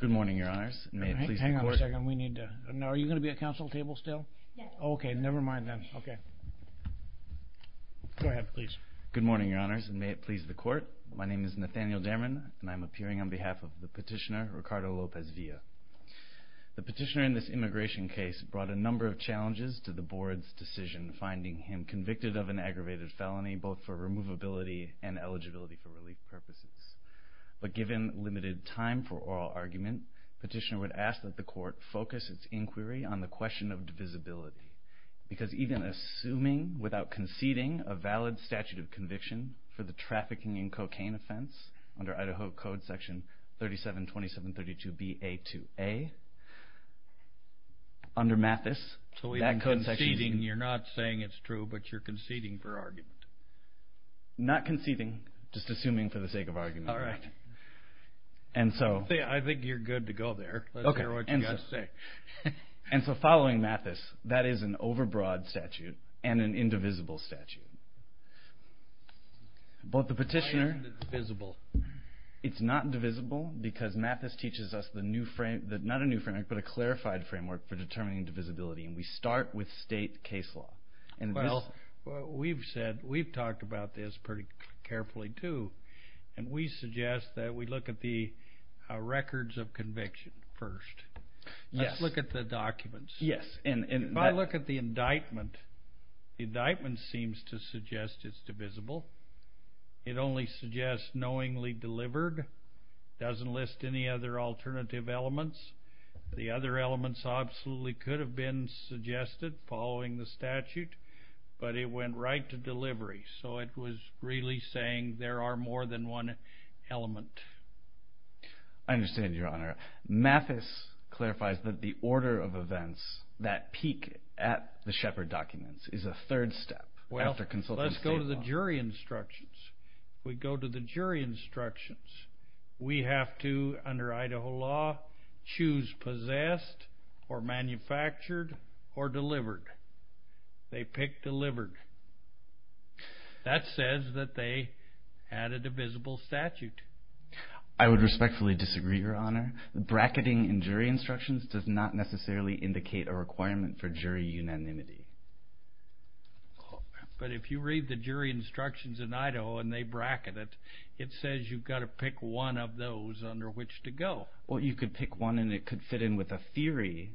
Good morning, Your Honors, and may it please the Court, my name is Nathaniel Derman and I am appearing on behalf of the petitioner, Ricardo Lopez-Villa. The petitioner in this immigration case brought a number of challenges to the Board's decision finding him convicted of an aggravated felony, both for removability and eligibility for relief purposes. But given limited time for oral argument, the petitioner would ask that the Court focus its inquiry on the question of divisibility, because even assuming, without conceding, a valid statute of conviction for the trafficking and cocaine offense under Idaho Code Section 3727.32b.a.2.a, under Mathis, that code section... So even conceding, you're not saying it's true, but you're conceding for argument? Not conceding, just assuming for the sake of argument. And so... I think you're good to go there. Let's hear what you've got to say. And so following Mathis, that is an overbroad statute and an indivisible statute. But the petitioner... Why indivisible? It's not divisible because Mathis teaches us the new framework, not a new framework, but a clarified framework for determining divisibility, and we start with state case law. Well, we've said, we've talked about this pretty carefully too, and we suggest that we look at the records of conviction first. Let's look at the documents. Yes. And if I look at the indictment, the indictment seems to suggest it's divisible. It only suggests knowingly delivered, doesn't list any other alternative elements. The other elements absolutely could have been suggested following the statute, but it went right to delivery. So it was really saying there are more than one element. I understand, Your Honor. Mathis clarifies that the order of events that peak at the Shepard documents is a third step after consultant state law. Well, let's go to the jury instructions. We go to the jury instructions. We have to, under Idaho law, choose possessed or manufactured or delivered. They pick delivered. That says that they added a divisible statute. I would respectfully disagree, Your Honor. Bracketing in jury instructions does not necessarily indicate a requirement for jury unanimity. But if you read the jury instructions in Idaho and they bracket it, it says you've got a pick one of those under which to go. Well, you could pick one and it could fit in with a theory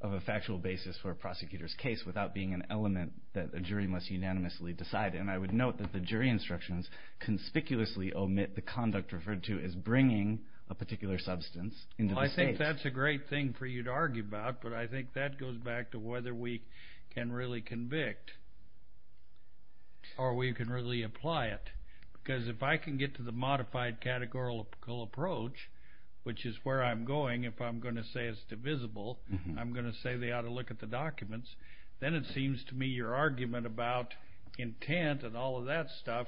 of a factual basis for a prosecutor's case without being an element that a jury must unanimously decide. And I would note that the jury instructions conspicuously omit the conduct referred to as bringing a particular substance into the state. Well, I think that's a great thing for you to argue about. But I think that goes back to whether we can really convict or we can really apply it. Because if I can get to the modified categorical approach, which is where I'm going, if I'm going to say it's divisible, I'm going to say they ought to look at the documents, then it seems to me your argument about intent and all of that stuff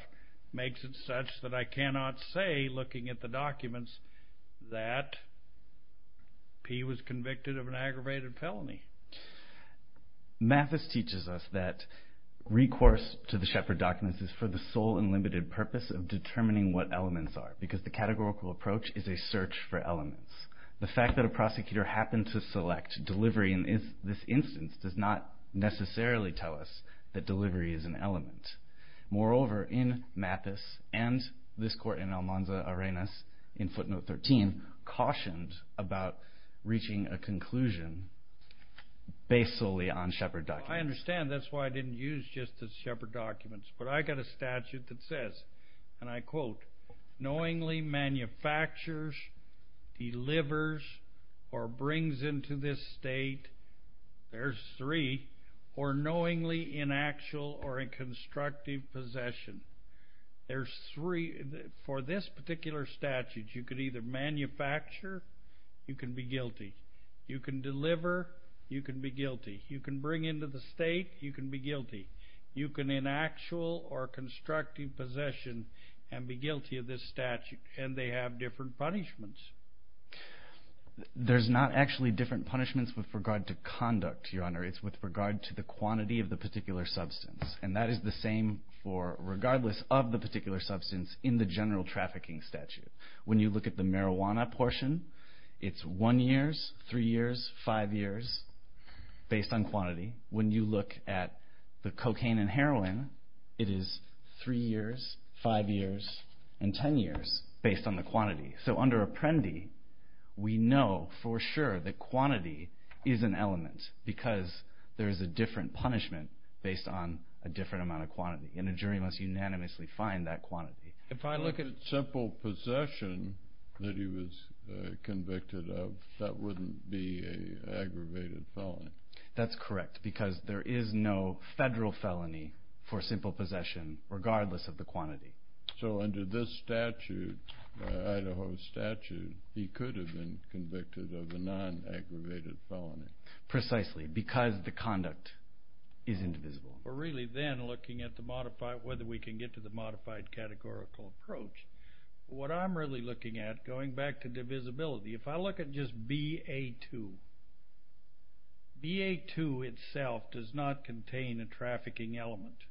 makes it such that I cannot say, looking at the documents, that he was convicted of an aggravated felony. Mathis teaches us that recourse to the Shepherd documents is for the sole and limited purpose of determining what elements are, because the categorical approach is a search for elements. The fact that a prosecutor happened to select delivery in this instance does not necessarily tell us that delivery is an element. Moreover, in Mathis and this court in Almanza Arenas, in footnote 13, cautioned about reaching a conclusion based solely on Shepherd documents. I understand. That's why I didn't use just the Shepherd documents. But I got a statute that says, and I quote, knowingly manufactures, delivers, or brings into this state, there's three, or knowingly in actual or in constructive possession. There's three. For this particular statute, you could either manufacture, you can be guilty. You can deliver, you can be guilty. You can bring into the state, you can be guilty. You can in actual or constructive possession and be guilty of this statute, and they have different punishments. There's not actually different punishments with regard to conduct, Your Honor. It's with regard to the quantity of the particular substance. That is the same for regardless of the particular substance in the general trafficking statute. When you look at the marijuana portion, it's one years, three years, five years, based on quantity. When you look at the cocaine and heroin, it is three years, five years, and 10 years based on the quantity. Under Apprendi, we know for sure that quantity is an element because there is a different punishment based on a different amount of quantity, and a jury must unanimously find that quantity. If I look at simple possession that he was convicted of, that wouldn't be an aggravated felony. That's correct, because there is no federal felony for simple possession regardless of the quantity. So, under this statute, Idaho statute, he could have been convicted of a non-aggravated felony. Precisely because the conduct is indivisible. We're really then looking at whether we can get to the modified categorical approach. What I'm really looking at, going back to divisibility, if I look at just BA2, BA2 itself does not contain a trafficking element.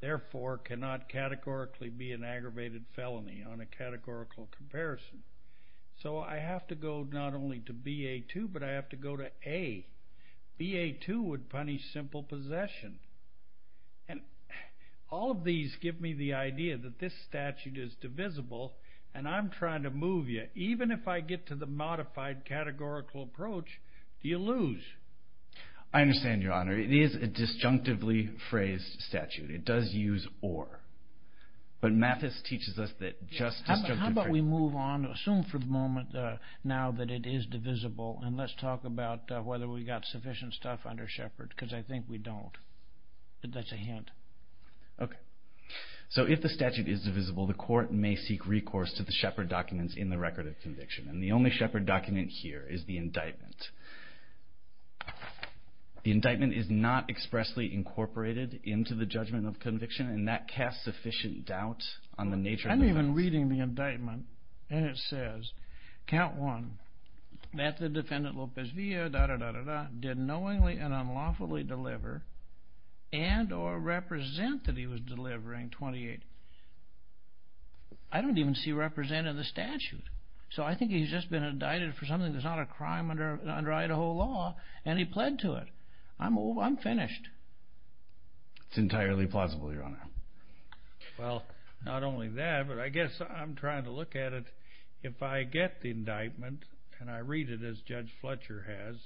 Therefore, it cannot categorically be an aggravated felony on a categorical comparison. So I have to go not only to BA2, but I have to go to A. BA2 would punish simple possession. All of these give me the idea that this statute is divisible, and I'm trying to move you. Even if I get to the modified categorical approach, you lose. I understand, Your Honor. It is a disjunctively phrased statute. It does use or. How about we move on, assume for the moment now that it is divisible, and let's talk about whether we've got sufficient stuff under Shepard, because I think we don't. That's a hint. Okay. So, if the statute is divisible, the court may seek recourse to the Shepard documents in the record of conviction. And the only Shepard document here is the indictment. The indictment is not expressly incorporated into the judgment of conviction, and that casts sufficient doubt on the nature of the evidence. I'm even reading the indictment, and it says, count one, that the defendant, Lopez Villa, did knowingly and unlawfully deliver and or represent that he was delivering, 28. I don't even see represent in the statute. So I think he's just been indicted for something that's not a crime under Idaho law, and he pled to it. I'm over. I'm finished. It's entirely plausible, Your Honor. Well, not only that, but I guess I'm trying to look at it. If I get the indictment, and I read it as Judge Fletcher has,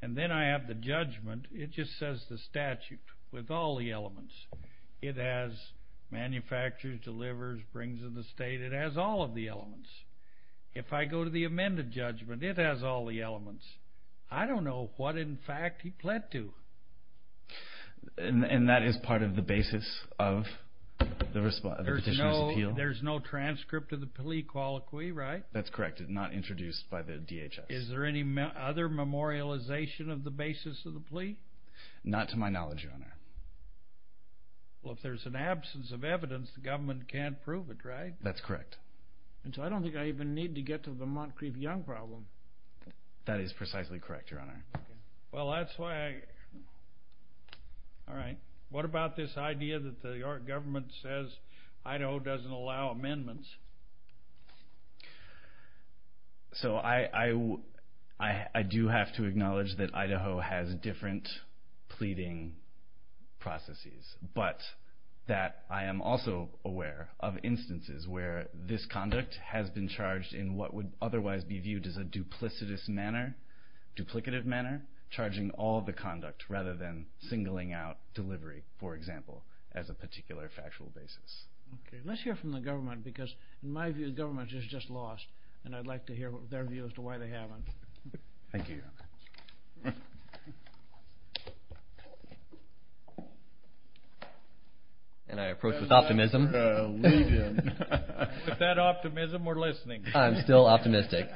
and then I have the judgment, it just says the statute with all the elements. It has manufactures, delivers, brings in the state. It has all of the elements. If I go to the amended judgment, it has all the elements. I don't know what, in fact, he pled to. And that is part of the basis of the Petitioner's Appeal? There's no transcript of the plea colloquy, right? That's correct. It's not introduced by the DHS. Is there any other memorialization of the basis of the plea? Not to my knowledge, Your Honor. Well, if there's an absence of evidence, the government can't prove it, right? That's correct. And so I don't think I even need to get to the Moncrief-Young problem. That is precisely correct, Your Honor. Well, that's why I... All right. What about this idea that the York government says Idaho doesn't allow amendments? So I do have to acknowledge that Idaho has different pleading processes, but that I am also aware of instances where this conduct has been charged in what would otherwise be manner, charging all the conduct rather than singling out delivery, for example, as a particular factual basis. Okay. Let's hear from the government because, in my view, the government has just lost, and I'd like to hear their view as to why they haven't. Thank you, Your Honor. And I approach with optimism. Leave him. With that optimism, we're listening. I'm still optimistic.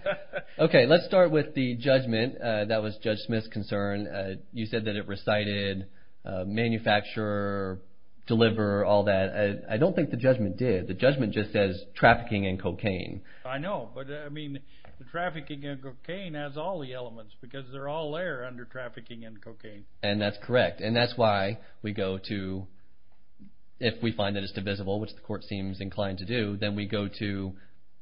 Okay. Let's start with the judgment. That was Judge Smith's concern. You said that it recited manufacturer, deliverer, all that. I don't think the judgment did. The judgment just says trafficking and cocaine. I know, but, I mean, the trafficking and cocaine has all the elements because they're all there under trafficking and cocaine. And that's correct. And that's why we go to... If we find that it's divisible, which the court seems inclined to do, then we go to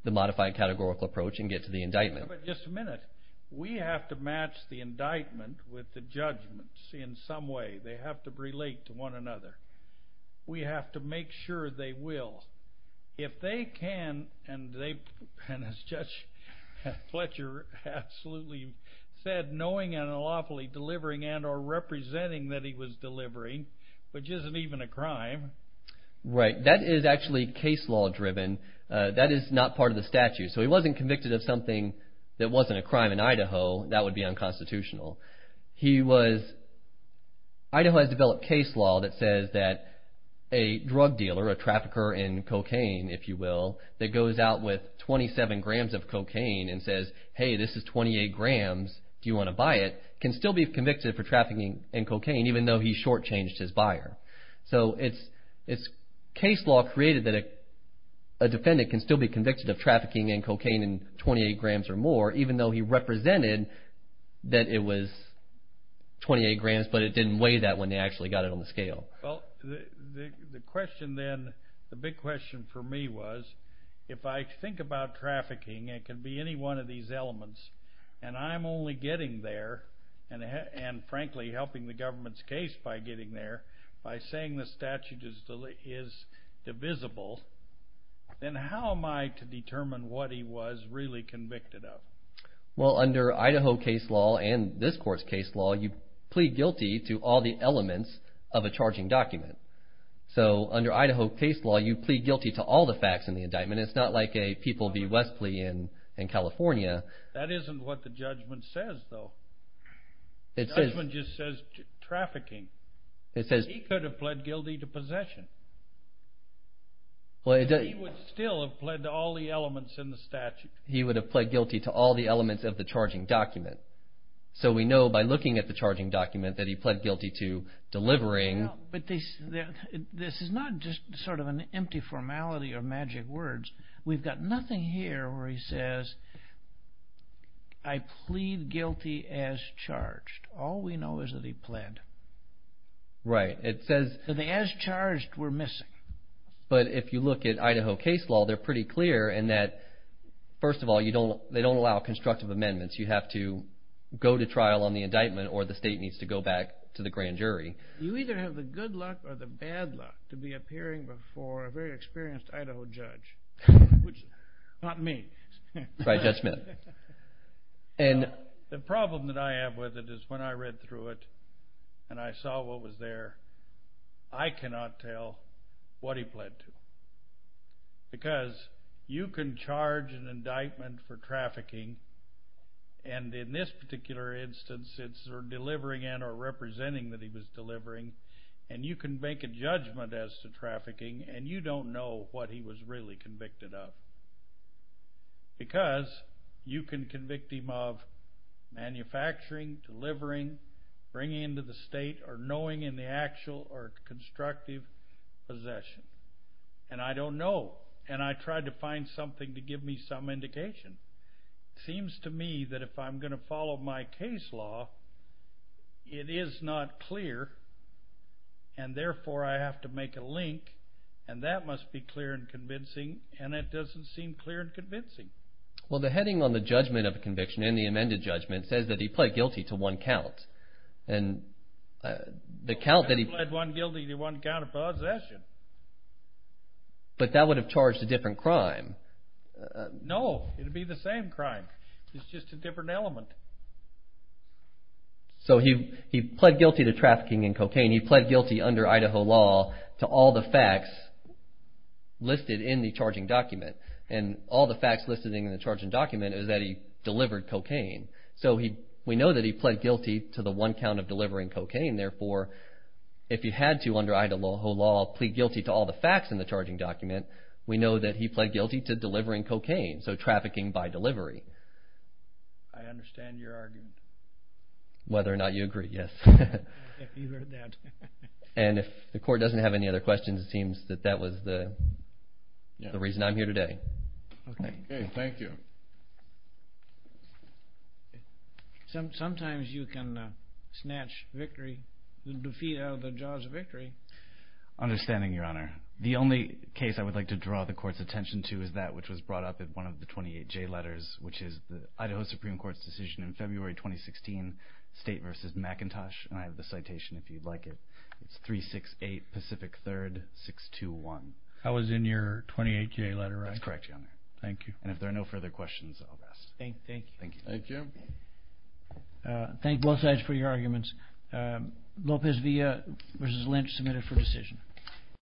the modified categorical approach and get to the indictment. But just a minute. We have to match the indictment with the judgments in some way. They have to relate to one another. We have to make sure they will. If they can, and as Judge Fletcher absolutely said, knowing and lawfully delivering and or representing that he was delivering, which isn't even a crime... Right. That is actually case law driven. That is not part of the statute. So he wasn't convicted of something that wasn't a crime in Idaho. That would be unconstitutional. He was... Idaho has developed case law that says that a drug dealer, a trafficker in cocaine, if you will, that goes out with 27 grams of cocaine and says, hey, this is 28 grams. Do you want to buy it? Can still be convicted for trafficking and cocaine, even though he shortchanged his buyer. So it's case law created that a defendant can still be convicted of trafficking and cocaine and 28 grams or more, even though he represented that it was 28 grams, but it didn't weigh that when they actually got it on the scale. Well, the question then, the big question for me was, if I think about trafficking, it can be any one of these elements, and I'm only getting there and, frankly, helping the government's case by getting there, by saying the statute is divisible, then how am I to determine what he was really convicted of? Well, under Idaho case law and this court's case law, you plead guilty to all the elements of a charging document. So under Idaho case law, you plead guilty to all the facts in the indictment. It's not like a People v. West plea in California. That isn't what the judgment says, though. The judgment just says trafficking. It says he could have pled guilty to possession. He would still have pled to all the elements in the statute. He would have pled guilty to all the elements of the charging document. So we know by looking at the charging document that he pled guilty to delivering. But this is not just sort of an empty formality of magic words. We've got nothing here where he says, I plead guilty as charged. All we know is that he pled. Right. As charged, we're missing. But if you look at Idaho case law, they're pretty clear in that, first of all, they don't allow constructive amendments. You have to go to trial on the indictment or the state needs to go back to the grand jury. You either have the good luck or the bad luck to be appearing before a very experienced Idaho judge. Which, not me. Right, that's me. And the problem that I have with it is when I read through it, and I saw what was there, I cannot tell what he pled to. Because you can charge an indictment for trafficking, and in this particular instance it's delivering and or representing that he was delivering, and you can make a judgment as to trafficking, and you don't know what he was really convicted of. Because you can convict him of manufacturing, delivering, bringing into the state, or knowing in the actual or constructive possession. And I don't know. And I tried to find something to give me some indication. It seems to me that if I'm going to follow my case law, it is not clear, and therefore I have to make a link, and that must be clear and convincing, and it doesn't seem clear and convincing. Well, the heading on the judgment of the conviction, in the amended judgment, says that he pled guilty to one count. And the count that he... He pled one guilty to one count of possession. But that would have charged a different crime. No, it would be the same crime. It's just a different element. So he pled guilty to trafficking in cocaine. He pled guilty under Idaho law to all the facts listed in the charging document. And all the facts listed in the charging document is that he delivered cocaine. So we know that he pled guilty to the one count of delivering cocaine. Therefore, if he had to, under Idaho law, plead guilty to all the facts in the charging document, we know that he pled guilty to delivering cocaine. So trafficking by delivery. I understand your argument. Whether or not you agree, yes. If you heard that. And if the Court doesn't have any other questions, it seems that that was the reason I'm here today. Okay, thank you. Sometimes you can snatch victory, defeat out of the jaws of victory. Understanding, Your Honor. The only case I would like to draw the Court's attention to is that which was brought up in one of the 28J letters, which is the Idaho Supreme Court's decision in February 2016, State v. McIntosh, and I have the citation if you'd like it. It's 368 Pacific 3rd, 621. That was in your 28J letter, right? That's correct, Your Honor. Thank you. And if there are no further questions, I'll pass. Thank you. Thank both sides for your arguments. Lopez Villa v. Lynch, submitted for decision.